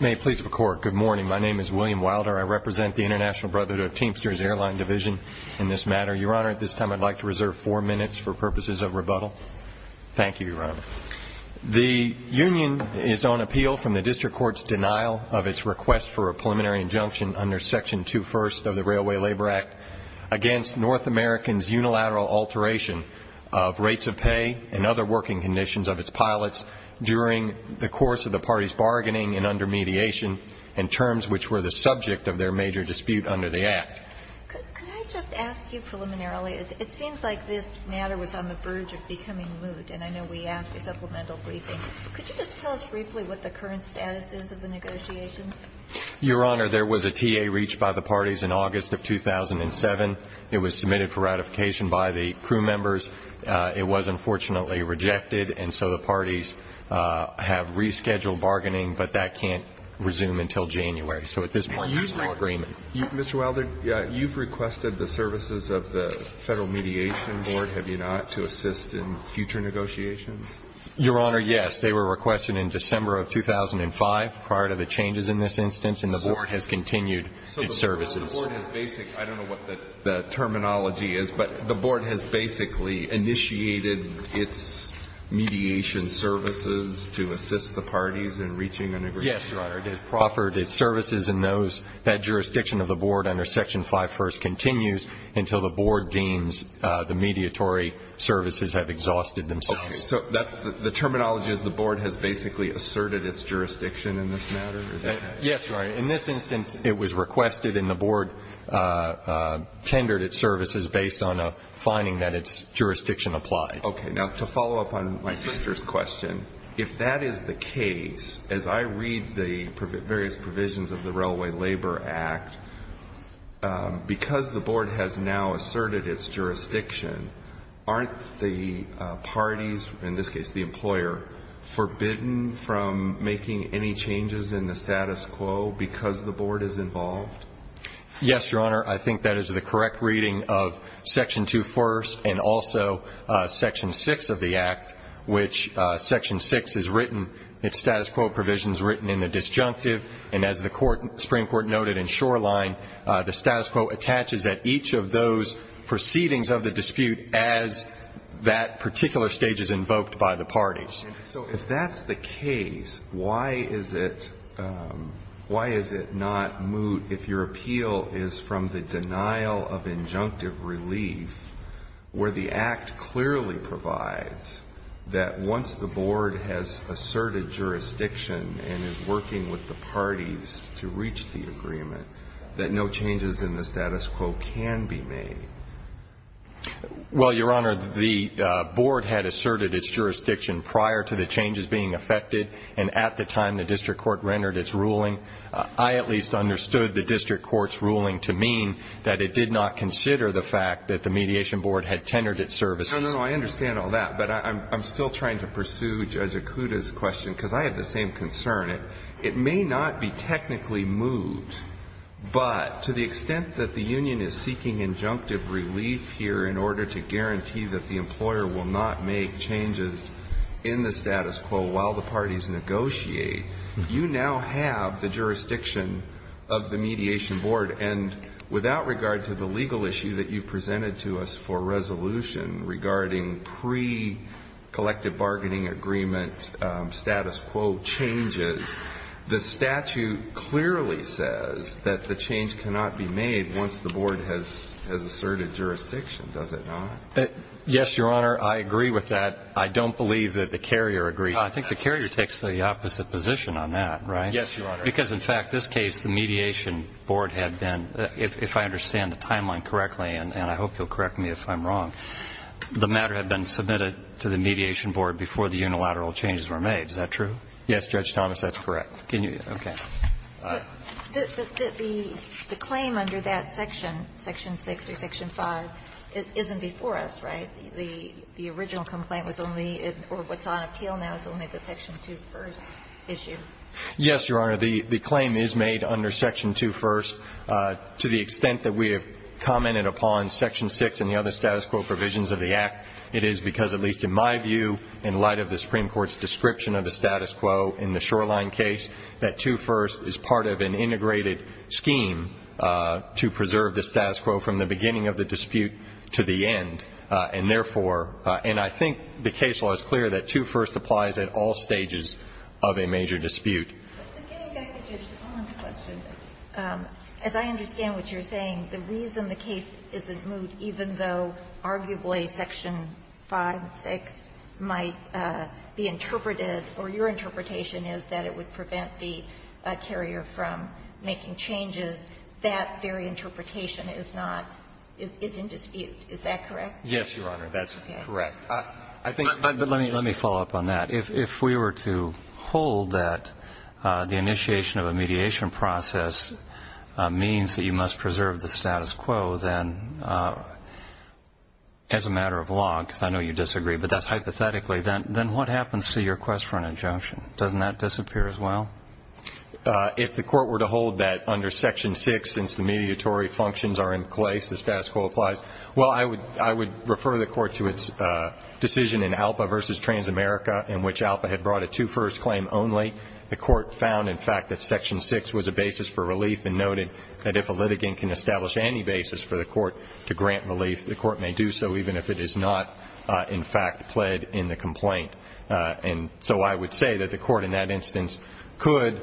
May I please record, good morning. My name is William Wilder. I represent the International Teamsters airline division in this matter. Your Honor, at this time I'd like to reserve four minutes for purposes of rebuttal. Thank you, your Honor. The Union is on appeal from the District Court's denial of its request for a preliminary injunction under Section 2 First of the Railway Labor Act against North Americans unilateral alteration of rates of pay and other working conditions of its pilots during the course of the party's bargaining and under mediation, and terms which were the subject of their major dispute under the Act. Could I just ask you preliminarily, it seems like this matter was on the verge of becoming moot, and I know we asked for supplemental briefing. Could you just tell us briefly what the current status is of the negotiations? Your Honor, there was a TA reached by the parties in August of 2007. It was submitted for ratification by the crew members. It was unfortunately rejected, and so the parties have rescheduled bargaining, but that can't resume until January. So at this point, there's no agreement. Mr. Wilder, you've requested the services of the Federal Mediation Board, have you not, to assist in future negotiations? Your Honor, yes. They were requested in December of 2005, prior to the changes in this instance, and the Board has continued its services. So the Board has basic – I don't know what the terminology is, but the Board has basically initiated its mediation services to assist the parties in reaching an agreement. Yes, Your Honor, it has proffered its services in those – that jurisdiction of the Board under Section 5 First continues until the Board deems the mediatory services have exhausted themselves. Okay. So that's – the terminology is the Board has basically asserted its jurisdiction in this matter? Is that correct? Yes, Your Honor. In this instance, it was requested and the Board tendered its services based on a finding that its jurisdiction applied. Okay. Now, to follow up on my sister's question, if that is the case, as I read the various provisions of the Railway Labor Act, because the Board has now asserted its jurisdiction, aren't the parties – in this case, the employer – forbidden from making any changes in the status quo because the Board is involved? Yes, Your Honor. I think that is the correct reading of Section 2 First and also Section 6 of the Act, which – Section 6 is written – its status quo provision is written in the disjunctive, and as the Supreme Court noted in Shoreline, the status quo attaches at each of those proceedings of the dispute as that particular stage is invoked by the parties. So if that's the case, why is it – why is it not moot if your appeal is from the denial of injunctive relief, where the Act clearly provides that once the Board has asserted jurisdiction and is working with the parties to reach the agreement, that no changes in the status quo can be made? Well, Your Honor, the Board had asserted its jurisdiction prior to the changes being affected, and at the time the district court rendered its ruling, I at least understood the district court's ruling to mean that it did not consider the fact that the Mediation Board had tendered its services. No, no, no. I understand all that, but I'm still trying to pursue Judge Ikuda's question because I have the same concern. It may not be technically moot, but to the extent that the union is seeking injunctive relief here in order to guarantee that the employer will not make changes in the status quo while the parties negotiate, you now have the jurisdiction of the Mediation Board, and without regard to the legal issue that you presented to us for resolution regarding pre-collective bargaining agreement status quo changes, the statute clearly says that the change cannot be made once the Board has asserted jurisdiction, does it not? Yes, Your Honor, I agree with that. I don't believe that the carrier agrees. I think the carrier takes the opposite position on that, right? Yes, Your Honor. Because, in fact, this case, the Mediation Board had been, if I understand the timeline correctly, and I hope you'll correct me if I'm wrong, the matter had been Yes, Judge Thomas, that's correct. Can you, okay. The claim under that section, Section 6 or Section 5, isn't before us, right? The original complaint was only, or what's on appeal now is only the Section 2 first issue. Yes, Your Honor, the claim is made under Section 2 first. To the extent that we have commented upon Section 6 and the other status quo provisions of the Act, it is because at least in my view, in light of the Supreme Court's description of the status quo in the Shoreline case, that 2 first is part of an integrated scheme to preserve the status quo from the beginning of the dispute to the end. And therefore, and I think the case law is clear that 2 first applies at all stages of a major dispute. But getting back to Judge Thomas' question, as I understand what you're saying, the arguably Section 5, 6 might be interpreted, or your interpretation is that it would prevent the carrier from making changes. That very interpretation is not, is in dispute. Is that correct? Yes, Your Honor, that's correct. Okay. I think But let me follow up on that. If we were to hold that the initiation of a mediation process means that you must preserve the status quo, then as a matter of law, because I know you disagree, but that's hypothetically, then what happens to your request for an injunction? Doesn't that disappear as well? If the Court were to hold that under Section 6, since the mediatory functions are in place, the status quo applies, well, I would refer the Court to its decision in ALPA v. Transamerica, in which ALPA had brought a 2 first claim only. The Court found in fact that Section 6 was a basis for relief and noted that if a carrier, again, can establish any basis for the Court to grant relief, the Court may do so even if it is not in fact pled in the complaint. And so I would say that the Court in that instance could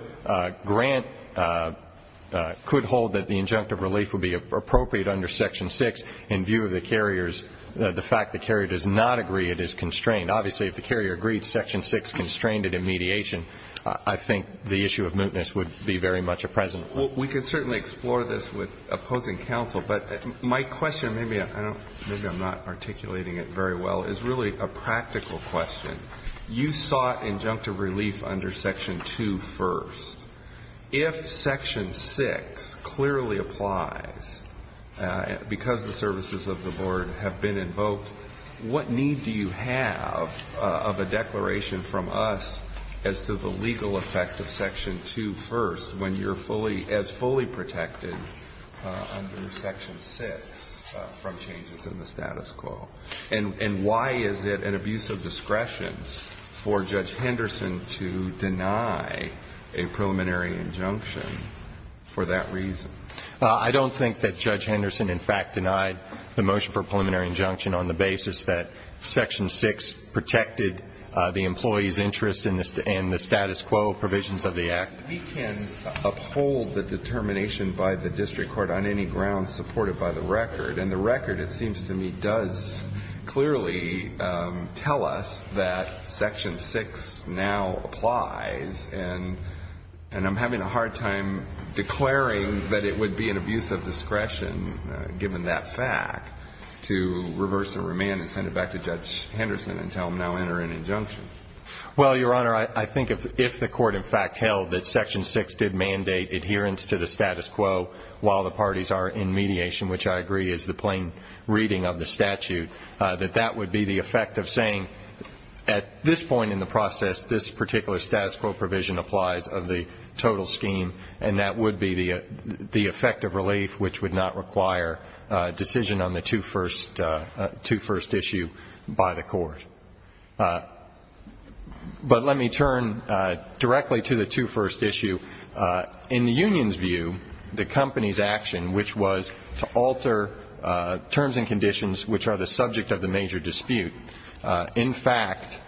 grant, could hold that the injunctive relief would be appropriate under Section 6 in view of the carrier's, the fact the carrier does not agree it is constrained. Obviously, if the carrier agreed Section 6 constrained it in mediation, I think the issue of mootness would be very much a present one. We could certainly explore this with opposing counsel, but my question, maybe I'm not articulating it very well, is really a practical question. You sought injunctive relief under Section 2 first. If Section 6 clearly applies because the services of the Board have been invoked, what need do you have of a declaration from us as to the legal effect of Section 2 first when you're fully, as fully protected under Section 6 from changes in the status quo? And why is it an abuse of discretion for Judge Henderson to deny a preliminary injunction for that reason? I don't think that Judge Henderson in fact denied the motion for a preliminary injunction on the basis that Section 6 protected the employee's interest in the status quo provisions of the Act. We can uphold the determination by the district court on any grounds supported by the record. And the record, it seems to me, does clearly tell us that Section 6 now applies and I'm having a hard time declaring that it would be an abuse of discretion, given that fact, to reverse the remand and send it back to Judge Henderson and tell him now enter an injunction. Well, Your Honor, I think if the court in fact held that Section 6 did mandate adherence to the status quo while the parties are in mediation, which I agree is the plain reading of the statute, that that would be the effect of saying at this point in the process this particular status quo provision applies of the total scheme and that would be the effect of relief which would not require decision on the two-first issue by the court. But let me turn directly to the two-first issue. In the union's view, the company's action, which was to alter terms and conditions which are the subject of the major dispute, in fact,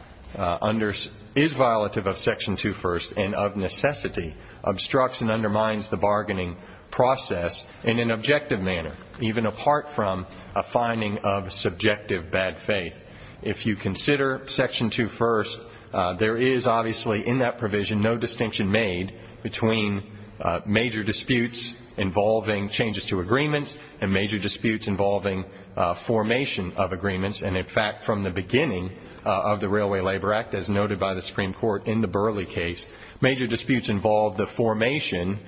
is violative of Section 2 first and of necessity obstructs and undermines the bargaining process in an objective manner, even apart from a finding of subjective bad faith. If you consider Section 2 first, there is obviously in that provision no distinction made between major disputes involving changes to agreements and major disputes involving formation of agreements. And, in fact, from the beginning of the Railway Labor Act, as noted by the Supreme Court in the Burley case, major disputes involved the formation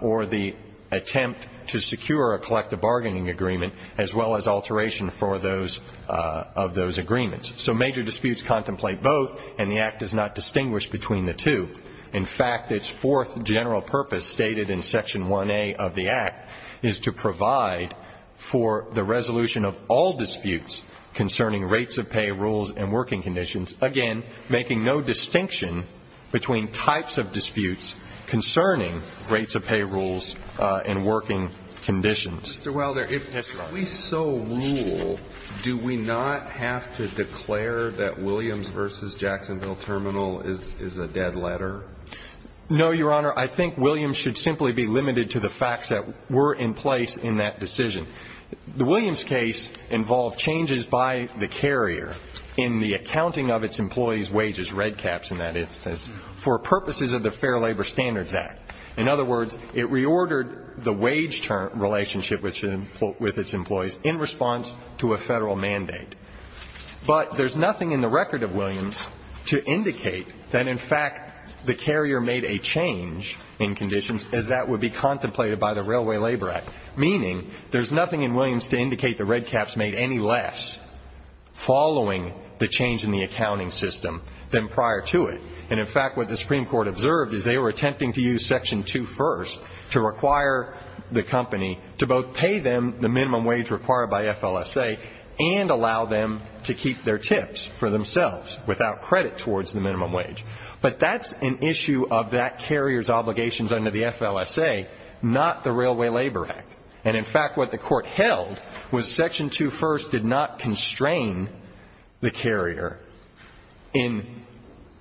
or the attempt to secure a collective bargaining agreement as well as alteration of those agreements. So major disputes contemplate both and the Act does not distinguish between the two. In fact, its fourth general purpose stated in Section 1A of the Act is to provide for the resolution of all disputes concerning rates of pay, rules and working conditions, again, making no distinction between types of disputes concerning rates of pay, rules and working conditions. Mr. Wilder, if we so rule, do we not have to declare that Williams v. Jacksonville Terminal is a dead letter? No, Your Honor. I think Williams should simply be limited to the facts that were in place in that decision. The Williams case involved changes by the carrier in the accounting of its employees' wages, red caps in that instance, for purposes of the Fair Labor Standards Act. In other words, it reordered the wage relationship with its employees in response to a federal mandate. But there's nothing in the record of Williams to indicate that, in fact, the carrier made a change in conditions as that would be contemplated by the Railway Labor Act, meaning there's nothing in Williams to indicate the red caps made any less following the change in the accounting system than prior to it. And, in fact, what the Supreme Court observed is they were attempting to use Section 2.1st to require the company to both pay them the minimum wage required by FLSA and allow them to keep their tips for themselves without credit towards the minimum wage. But that's an issue of that carrier's obligations under the FLSA, not the Railway Labor Act. And, in fact, what the Court held was Section 2.1st did not constrain the carrier's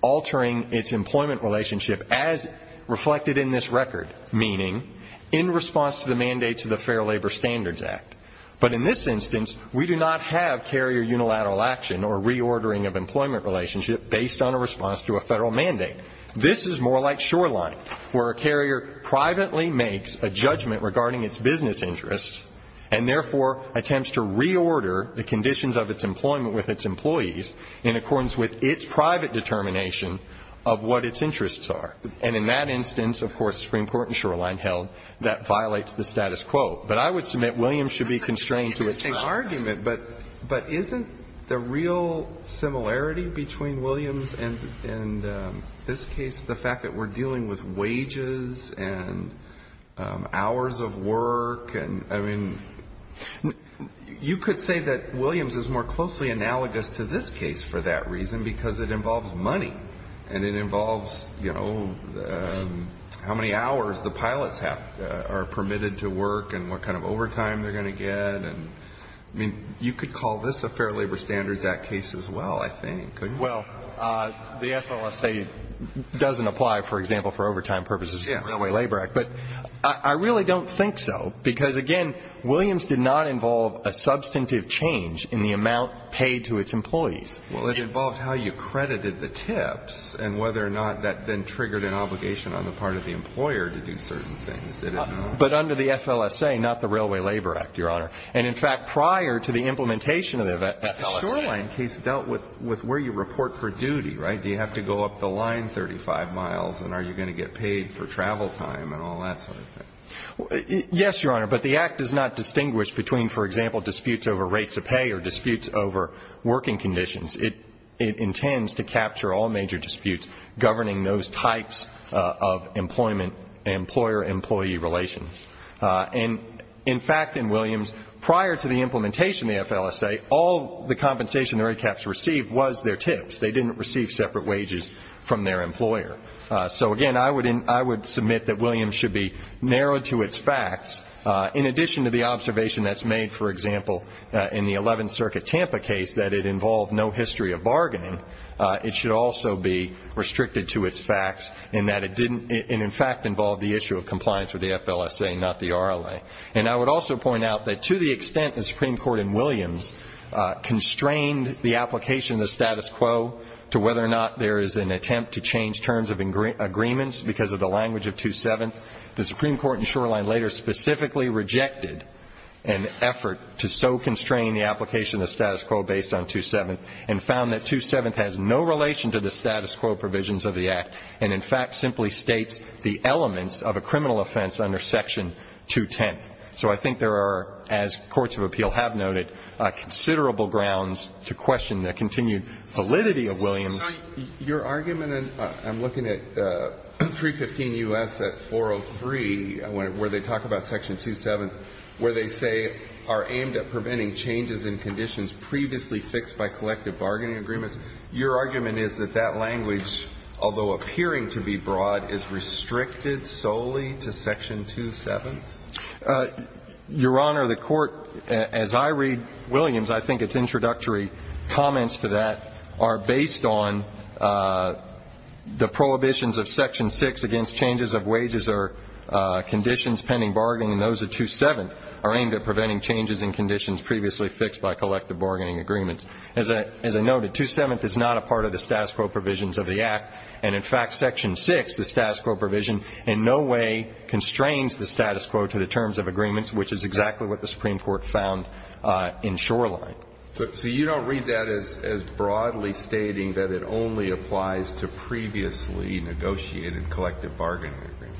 reordering its employment relationship as reflected in this record, meaning in response to the mandates of the Fair Labor Standards Act. But in this instance, we do not have carrier unilateral action or reordering of employment relationship based on a response to a federal mandate. This is more like Shoreline, where a carrier privately makes a judgment regarding its business interests and, therefore, attempts to reorder the conditions of its employment with its employees in accordance with its private determination of what its interests are. And in that instance, of course, the Supreme Court in Shoreline held that violates the status quo. But I would submit Williams should be constrained to its rights. But isn't the real similarity between Williams and this case the fact that we're dealing with wages and hours of work? I mean, you could say that Williams is more closely analogous to this case for that it involves money and it involves, you know, how many hours the pilots are permitted to work and what kind of overtime they're going to get. I mean, you could call this a Fair Labor Standards Act case as well, I think. Well, the FLSA doesn't apply, for example, for overtime purposes to the Railway Labor Act. But I really don't think so because, again, Williams did not involve a substantive change in the amount paid to its employees. Well, it involved how you credited the tips and whether or not that then triggered an obligation on the part of the employer to do certain things, didn't it? But under the FLSA, not the Railway Labor Act, Your Honor. And, in fact, prior to the implementation of the FLSA. The Shoreline case dealt with where you report for duty, right? Do you have to go up the line 35 miles and are you going to get paid for travel time and all that sort of thing? Yes, Your Honor, but the Act does not distinguish between, for example, disputes over rates of pay or disputes over working conditions. It intends to capture all major disputes governing those types of employment and employer-employee relations. And, in fact, in Williams, prior to the implementation of the FLSA, all the compensation the red caps received was their tips. They didn't receive separate wages from their employer. So, again, I would submit that Williams should be narrowed to its facts. In addition to the observation that's made, for example, in the 11th Circuit Tampa case that it involved no history of bargaining, it should also be restricted to its facts in that it didn't, in fact, involve the issue of compliance with the FLSA, not the RLA. And I would also point out that to the extent the Supreme Court in Williams constrained the application of the status quo to whether or not there is an attempt to change terms of agreements because of the language of 2-7, the Supreme Court in Shoreline later specifically rejected an effort to so constrain the application of the status quo based on 2-7 and found that 2-7 has no relation to the status quo provisions of the Act and, in fact, simply states the elements of a criminal offense under Section 2-10. So I think there are, as courts of appeal have noted, considerable grounds to question the continued validity of Williams. Your argument, and I'm looking at 315 U.S. at 403, where they talk about Section 2-7, where they say are aimed at preventing changes in conditions previously fixed by collective bargaining agreements. Your argument is that that language, although appearing to be broad, is restricted solely to Section 2-7? Your Honor, the Court, as I read Williams, I think its introductory comments to that are based on the prohibitions of Section 6 against changes of wages or conditions pending bargaining and those of 2-7 are aimed at preventing changes in conditions previously fixed by collective bargaining agreements. As I noted, 2-7 is not a part of the status quo provisions of the Act and, in fact, Section 6, the status quo provision, in no way constrains the status quo to the terms of agreements, which is exactly what the Supreme Court found in Shoreline. So you don't read that as broadly stating that it only applies to previously negotiated collective bargaining agreements?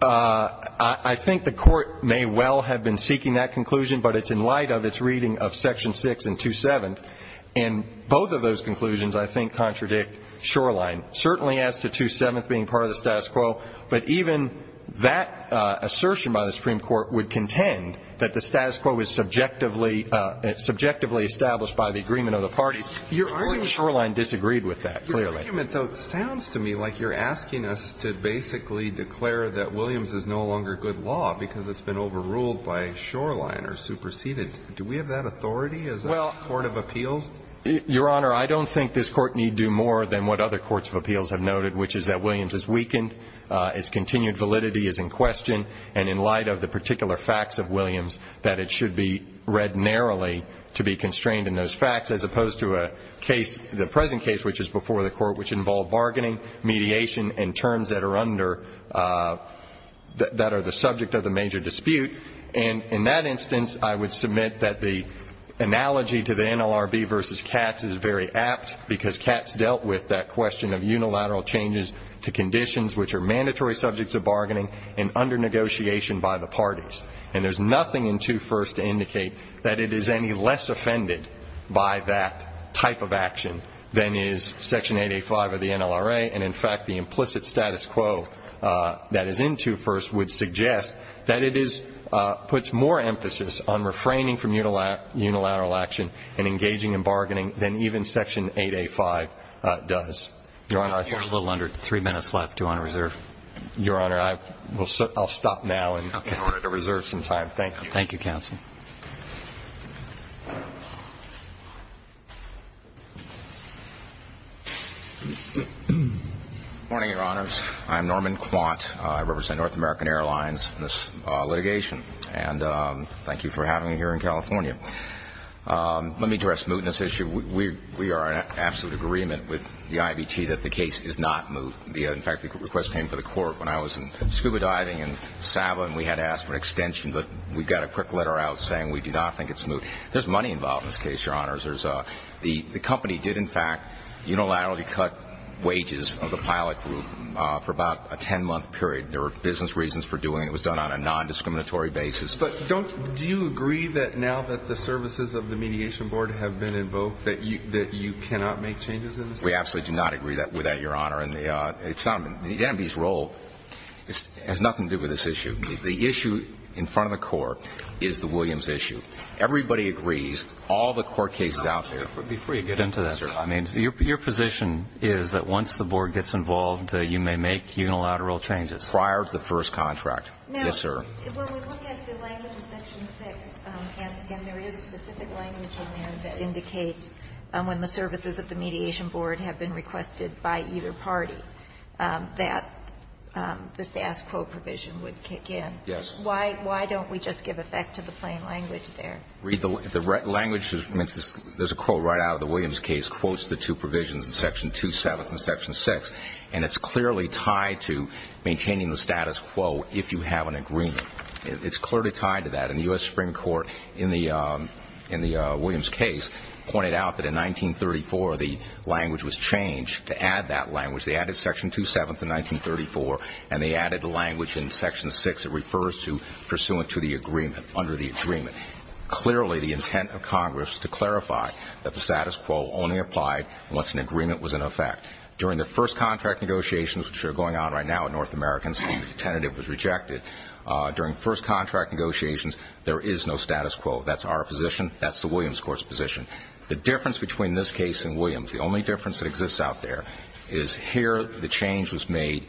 I think the Court may well have been seeking that conclusion, but it's in light of its reading of Section 6 and 2-7, and both of those conclusions, I think, contradict Shoreline, certainly as to 2-7 being part of the status quo, but even that assertion by the Supreme Court would contend that the status quo is subjectively established by the agreement of the parties. I think Shoreline disagreed with that, clearly. Your argument, though, sounds to me like you're asking us to basically declare that Williams is no longer good law because it's been overruled by Shoreline or superseded. Do we have that authority as a court of appeals? Your Honour, I don't think this Court need do more than what other courts of appeals have noted, which is that Williams is weakened, its continued validity is in question, and in light of the particular facts of Williams that it should be read narrowly to be constrained in those facts, as opposed to a case, the present case, which is before the Court, which involved bargaining, mediation, and terms that are under... that are the subject of the major dispute. And in that instance, I would submit that the analogy to the NLRB versus Katz is very apt, because Katz dealt with that question of unilateral changes to conditions which are mandatory subjects of bargaining and under negotiation by the parties. And there's nothing in 2 First to indicate that it is any less offended by that type of action than is Section 8A5 of the NLRA, and, in fact, the implicit status quo that is in 2 First would suggest that it is... puts more emphasis on refraining from unilateral action and engaging in bargaining than even Section 8A5 does. Your Honour... You're a little under three minutes left, Your Honour. Reserve. Your Honour, I'll stop now in order to reserve some time. Thank you, counsel. Morning, Your Honours. I'm Norman Quant. I represent North American Airlines in this litigation. And thank you for having me here in California. Let me address mootness issue. We are in absolute agreement with the IBT that the case is not moot. In fact, the request came to the court when I was scuba diving in Sabah and we had asked for an extension, but we got a quick letter out saying we do not think it's moot. There's money involved in this case, Your Honours. The company did, in fact, unilaterally cut wages of the pilot group for about a ten-month period. There were business reasons for doing it. It was done on a non-discriminatory basis. But don't... Do you agree that now that the services of the Mediation Board have been invoked that you cannot make changes in this case? We absolutely do not agree with that, Your Honour. It's not... The NMB's role has nothing to do with this issue. The issue in front of the court is the Williams issue. Everybody agrees. All the court cases out there... Be free to get into that, sir. Your position is that once the board gets involved, you may make unilateral changes? Prior to the first contract. Yes, sir. When we look at the language in Section 6, and there is specific language in there that indicates when the services of the Mediation Board have been requested by either party, that the status quo provision would kick in. Yes. Why don't we just give effect to the plain language there? Read the language. There's a quote right out of the Williams case, quotes the two provisions in Section 2-7 and Section 6, and it's clearly tied to maintaining the status quo if you have an agreement. It's clearly tied to that. And the U.S. Supreme Court in the Williams case pointed out that in 1934, the language was changed to add that language. They added Section 2-7 to 1934, and they added the language in Section 6 that refers to pursuant to the agreement, under the agreement. Clearly, the intent of Congress to clarify that the status quo only applied once an agreement was in effect. During the first contract negotiations, which are going on right now in North America, since the tentative was rejected, during first contract negotiations, there is no status quo. That's our position. The difference between this case and Williams, the only difference that exists out there, is here the change was made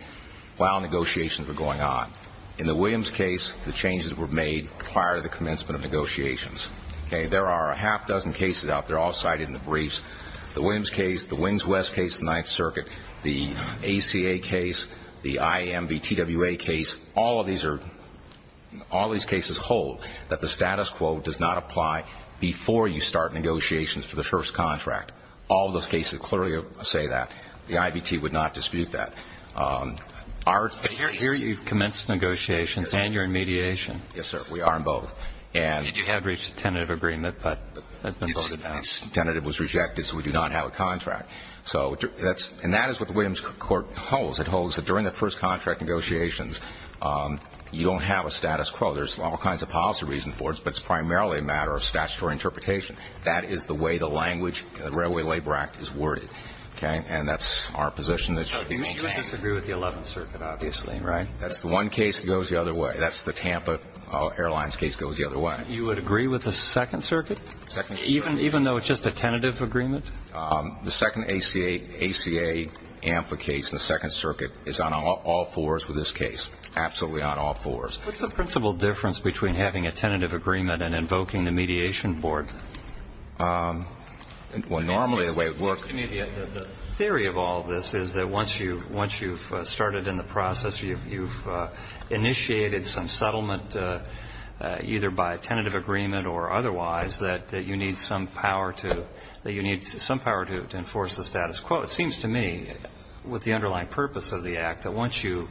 while negotiations were going on. In the Williams case, the changes were made prior to the commencement of negotiations. There are a half dozen cases out there, all cited in the briefs. The Williams case, the Wings West case, the Ninth Circuit, the ACA case, the IMVTWA case, all of these are... all these cases hold that the status quo does not apply before you start negotiations for the first contract. All of those cases clearly say that. The IBT would not dispute that. Our... But here you've commenced negotiations and you're in mediation. Yes, sir. We are in both. And you have reached a tentative agreement, but it's been voted out. Its tentative was rejected, so we do not have a contract. So, that's... and that is what the Williams court holds. It holds that during the first contract negotiations, you don't have a status quo. There's all kinds of policy reasons for it, but it's primarily a matter of statutory interpretation. That is the way the language in the Railway Labor Act is worded. Okay? And that's our position that should be maintained. So, you would disagree with the Eleventh Circuit, obviously, right? That's the one case that goes the other way. That's the Tampa Airlines case that goes the other way. You would agree with the Second Circuit? Second Circuit? Even though it's just a tentative agreement? The second ACA... ACA AMFA case, the Second Circuit, is on all fours with this case. Absolutely on all fours. What's the principal difference between having a tentative agreement and invoking the mediation board? Well, normally, the way it works... The theory of all this is that once you've started in the process, you've initiated some settlement either by a tentative agreement or otherwise, that you need some power to enforce with the underlying purpose of the Act that once you...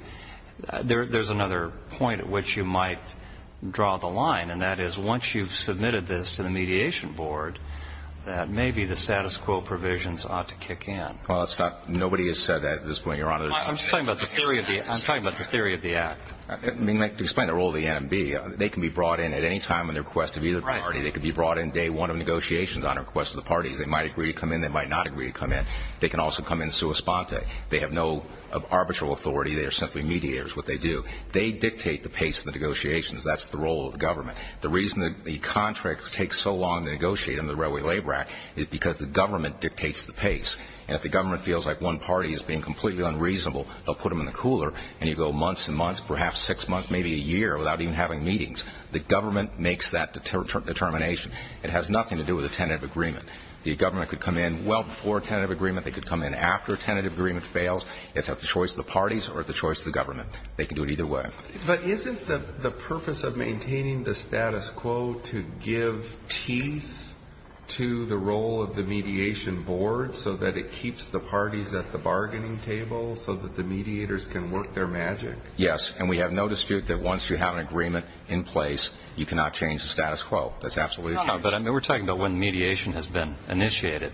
There's another point at which you might draw the line between what the status quo is and what the What's the line? And that is, once you've submitted this to the mediation board, that maybe the status quo provisions ought to kick in. Well, it's not... Nobody has said that at this point, Your Honor. I'm just talking about the theory of the Act. Explain the role of the NMB. They can be brought in at any time on the request of either party. They could be brought in day one of negotiations on the request of the parties. They might agree to come in. They might not agree to come in. They can also come in sua sponte. They have no arbitral authority. They are simply mediators. What they do, they dictate the pace of the negotiations. That's the role of the government. The reason that the contracts take so long to negotiate under the Railway Labor Act is because the government dictates the pace. And if the government feels like one party is being completely unreasonable, they'll put them in the cooler and you go months and months, perhaps six months, maybe a year without even having meetings. The government makes that determination. It has nothing to do with a tentative agreement. The government could come in well before a tentative agreement. They could come in after a tentative agreement fails. It's up to the choice of the parties or the choice of the government. They can do it either way. But isn't the purpose of maintaining the status quo to give teeth to the role of the mediation board so that it keeps the parties at the bargaining table so that the mediators can work their magic? Yes. And we have no dispute that once you have an agreement in place, you cannot change the status quo. That's absolutely the case. No, but I mean we're talking about when mediation has been initiated.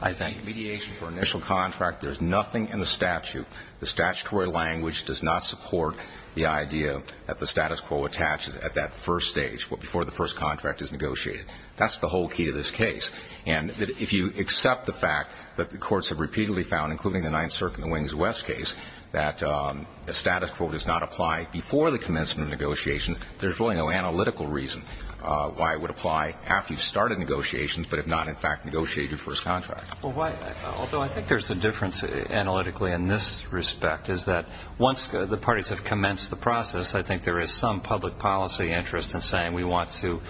I think mediation for initial contract, there's nothing in the statute. The statutory language does not support the idea that the status quo attaches at that first stage before the first contract is negotiated. That's the whole key to this case. And if you accept the fact that the courts have repeatedly found, including the Ninth Circuit and the Wings of West case, that the status quo does not apply before the commencement of negotiations, there's really no analytical reason why it would apply after you've started negotiations but if not in fact negotiate your first contract. Although I think there's a difference analytically in this respect is that once the parties have commenced the process I think there is some public policy interest in saying we want to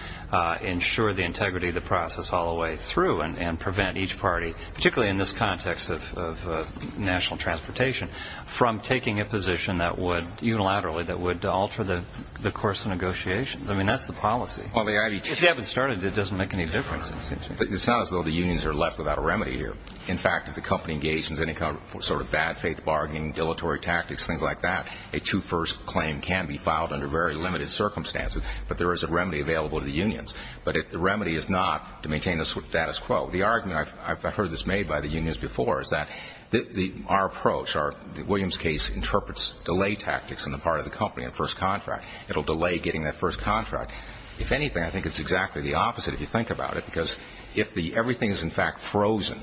ensure the integrity of the process all the way through and prevent each party particularly in this context of national transportation from taking a position that would unilaterally alter the course of negotiations. That's the policy. If you haven't started it doesn't make any difference. It's not as though the unions are left without a remedy here. In fact if the company is not to maintain the status quo the argument I've heard before is that our approach William's case interprets delay tactics in the first contract. If anything it's the opposite. If everything is frozen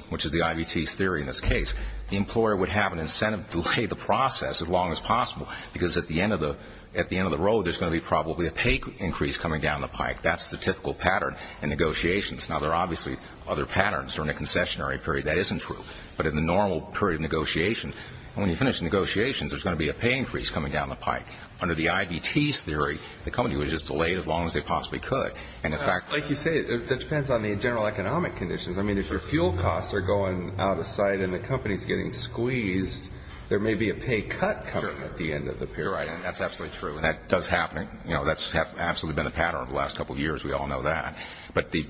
the employer would have an incentive to delay the process as long as possible. In the normal period of negotiations there's going to be a pay increase coming down the pipe. Under the IBT theory the company was delayed as long as they could. If your fuel costs are going out of sight and the company is getting out of sight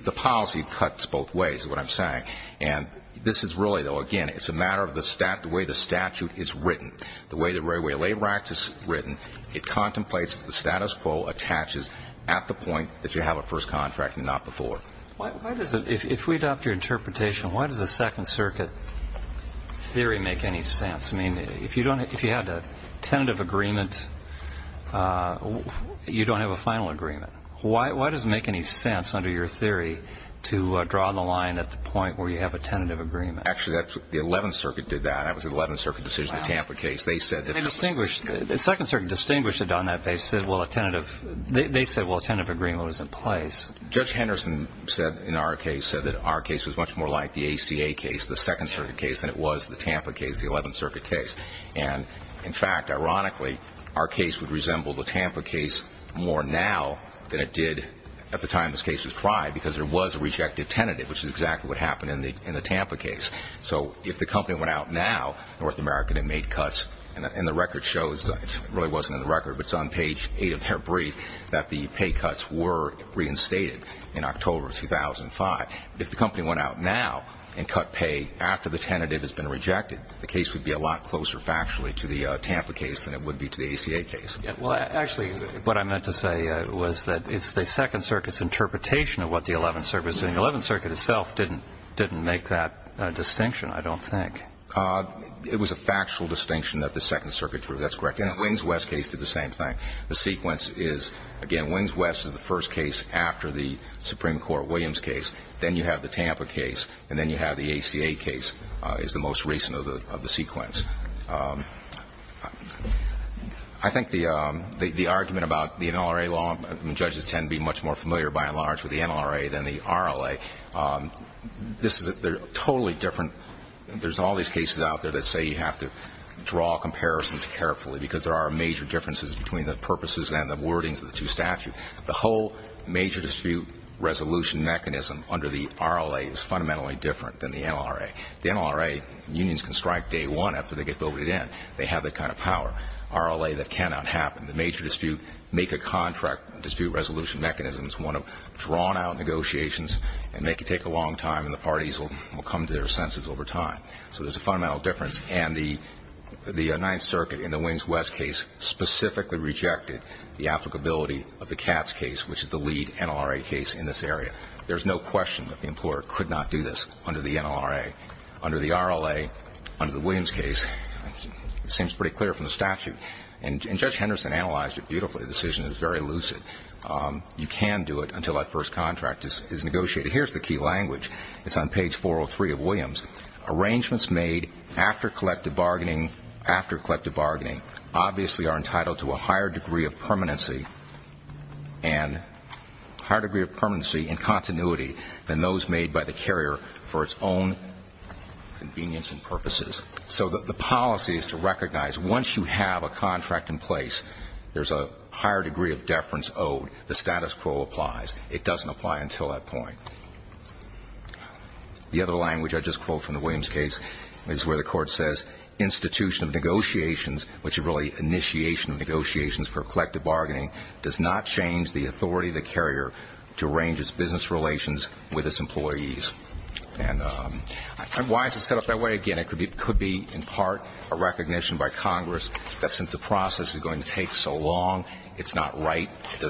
the policy cuts both ways. It's a matter of the way the statute is written. It contemplates the status quo attaches at the point you have a first contract and not before. Why does the second circuit theory make any sense? You don't have a final agreement. Why does it make any sense under your theory to draw the line at the point where you have a tentative agreement? Actually the 11th Circuit decision the Tampa case they said a tentative agreement was in place. Judge Henderson said our case was more like the second circuit case than the Tampa case. And in fact ironically our case would resemble the Tampa case more now than it did at the time this case was tried because there was a rejected tentative which is exactly what the Circuit did. The case would be a lot closer factually to the Tampa case than the ACA case. Actually what I meant to say was the second circuit didn't make that distinction I don't think. It was a factual distinction that the second circuit did. The sequence is again Williams West is the first case after the Supreme Court Williams case then you have the Tampa case and then the ACA case. I think the argument about the NLRA law judges are more familiar with the NLRA than the RLA. There are major differences between the RLA and the NLRA. The NLRA unions can strike day one after they get voted in. They have that kind of power. The major dispute is one of drawn out negotiations and make the fundamental difference. The Ninth Circuit specifically rejected the applicability of the CATS case. There is no question that the employer could not do this under the NLRA. Under the RLA under the Williams case it seems pretty clear from the statute. Judge Henderson analyzed it beautifully. You can do it until the first contract is negotiated. Arrangements made after collective bargaining are entitled to a higher degree of permanency and continuity than those made by the carrier for its own convenience and purposes. Once you have a contract in place there is a higher degree of deference owed. The status quo applies. It doesn't apply until that point. The other language I just quote from the Williams case is where the court says initiation of negotiations for collective bargaining is necessary for the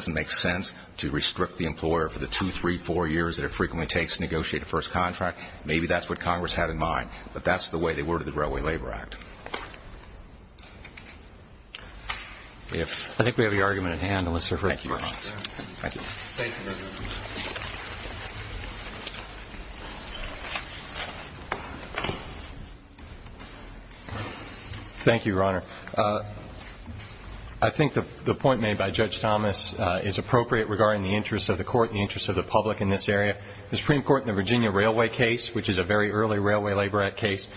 make sense to restrict the employer for the 2, 3, 4 years it frequently takes to negotiate a settlement of labor disputes under the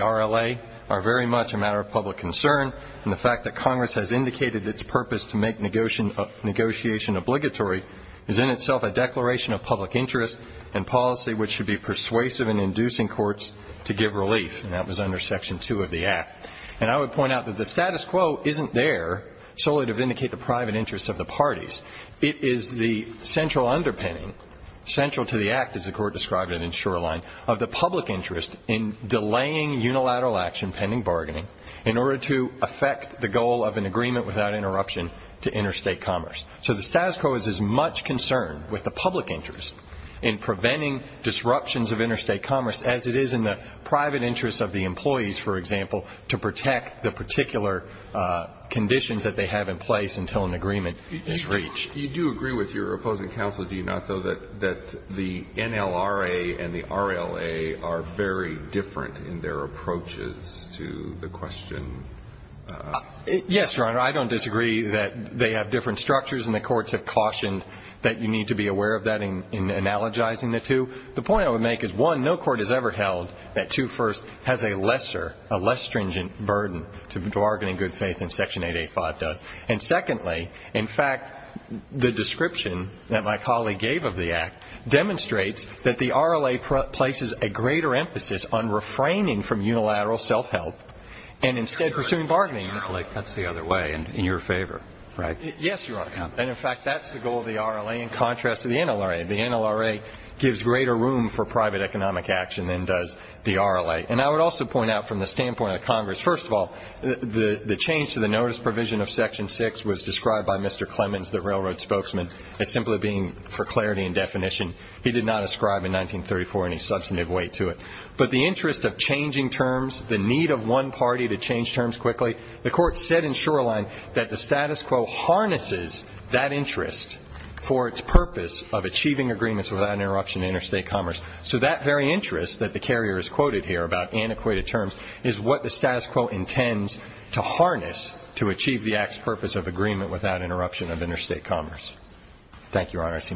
RLA are very much a matter of public concern and the fact that Congress has indicated its purpose to make negotiation obligatory is in itself a matter of public interest in delaying unilateral action pending bargaining in order to effect the goal of an agreement without interruption to interstate commerce so the status quo is as much concerned with the public interest in preventing disruptions of interstate commerce as it is in the private interest of the employees to protect the particular conditions they have in place until an agreement is reached. Thank you. You do agree with your opposing counsel that the NLRA and the RLA are very different in their approaches to the question. Yes, Your Honor, I don't disagree that they have different structures and the courts have cautioned that you need to be aware of that in analogizing the two. The point I would make is one, no court has ever held that two first has a lesser, a less stringent burden to bargaining good faith than section 885 does. And secondly, in fact, the description that my colleague has made, the NLRA gives greater room for private economic action than does the RLA. And I would also point out from the standpoint of Congress, first of all, the change to the notice provision of section 6 was that the status quo harnesses that interest for its purpose of achieving agreements without interruption of interstate commerce. So that very interest is what the status quo intends to harness to achieve the purpose of thing that Congress has done in the last few years. And I think that Congress has done a lot better than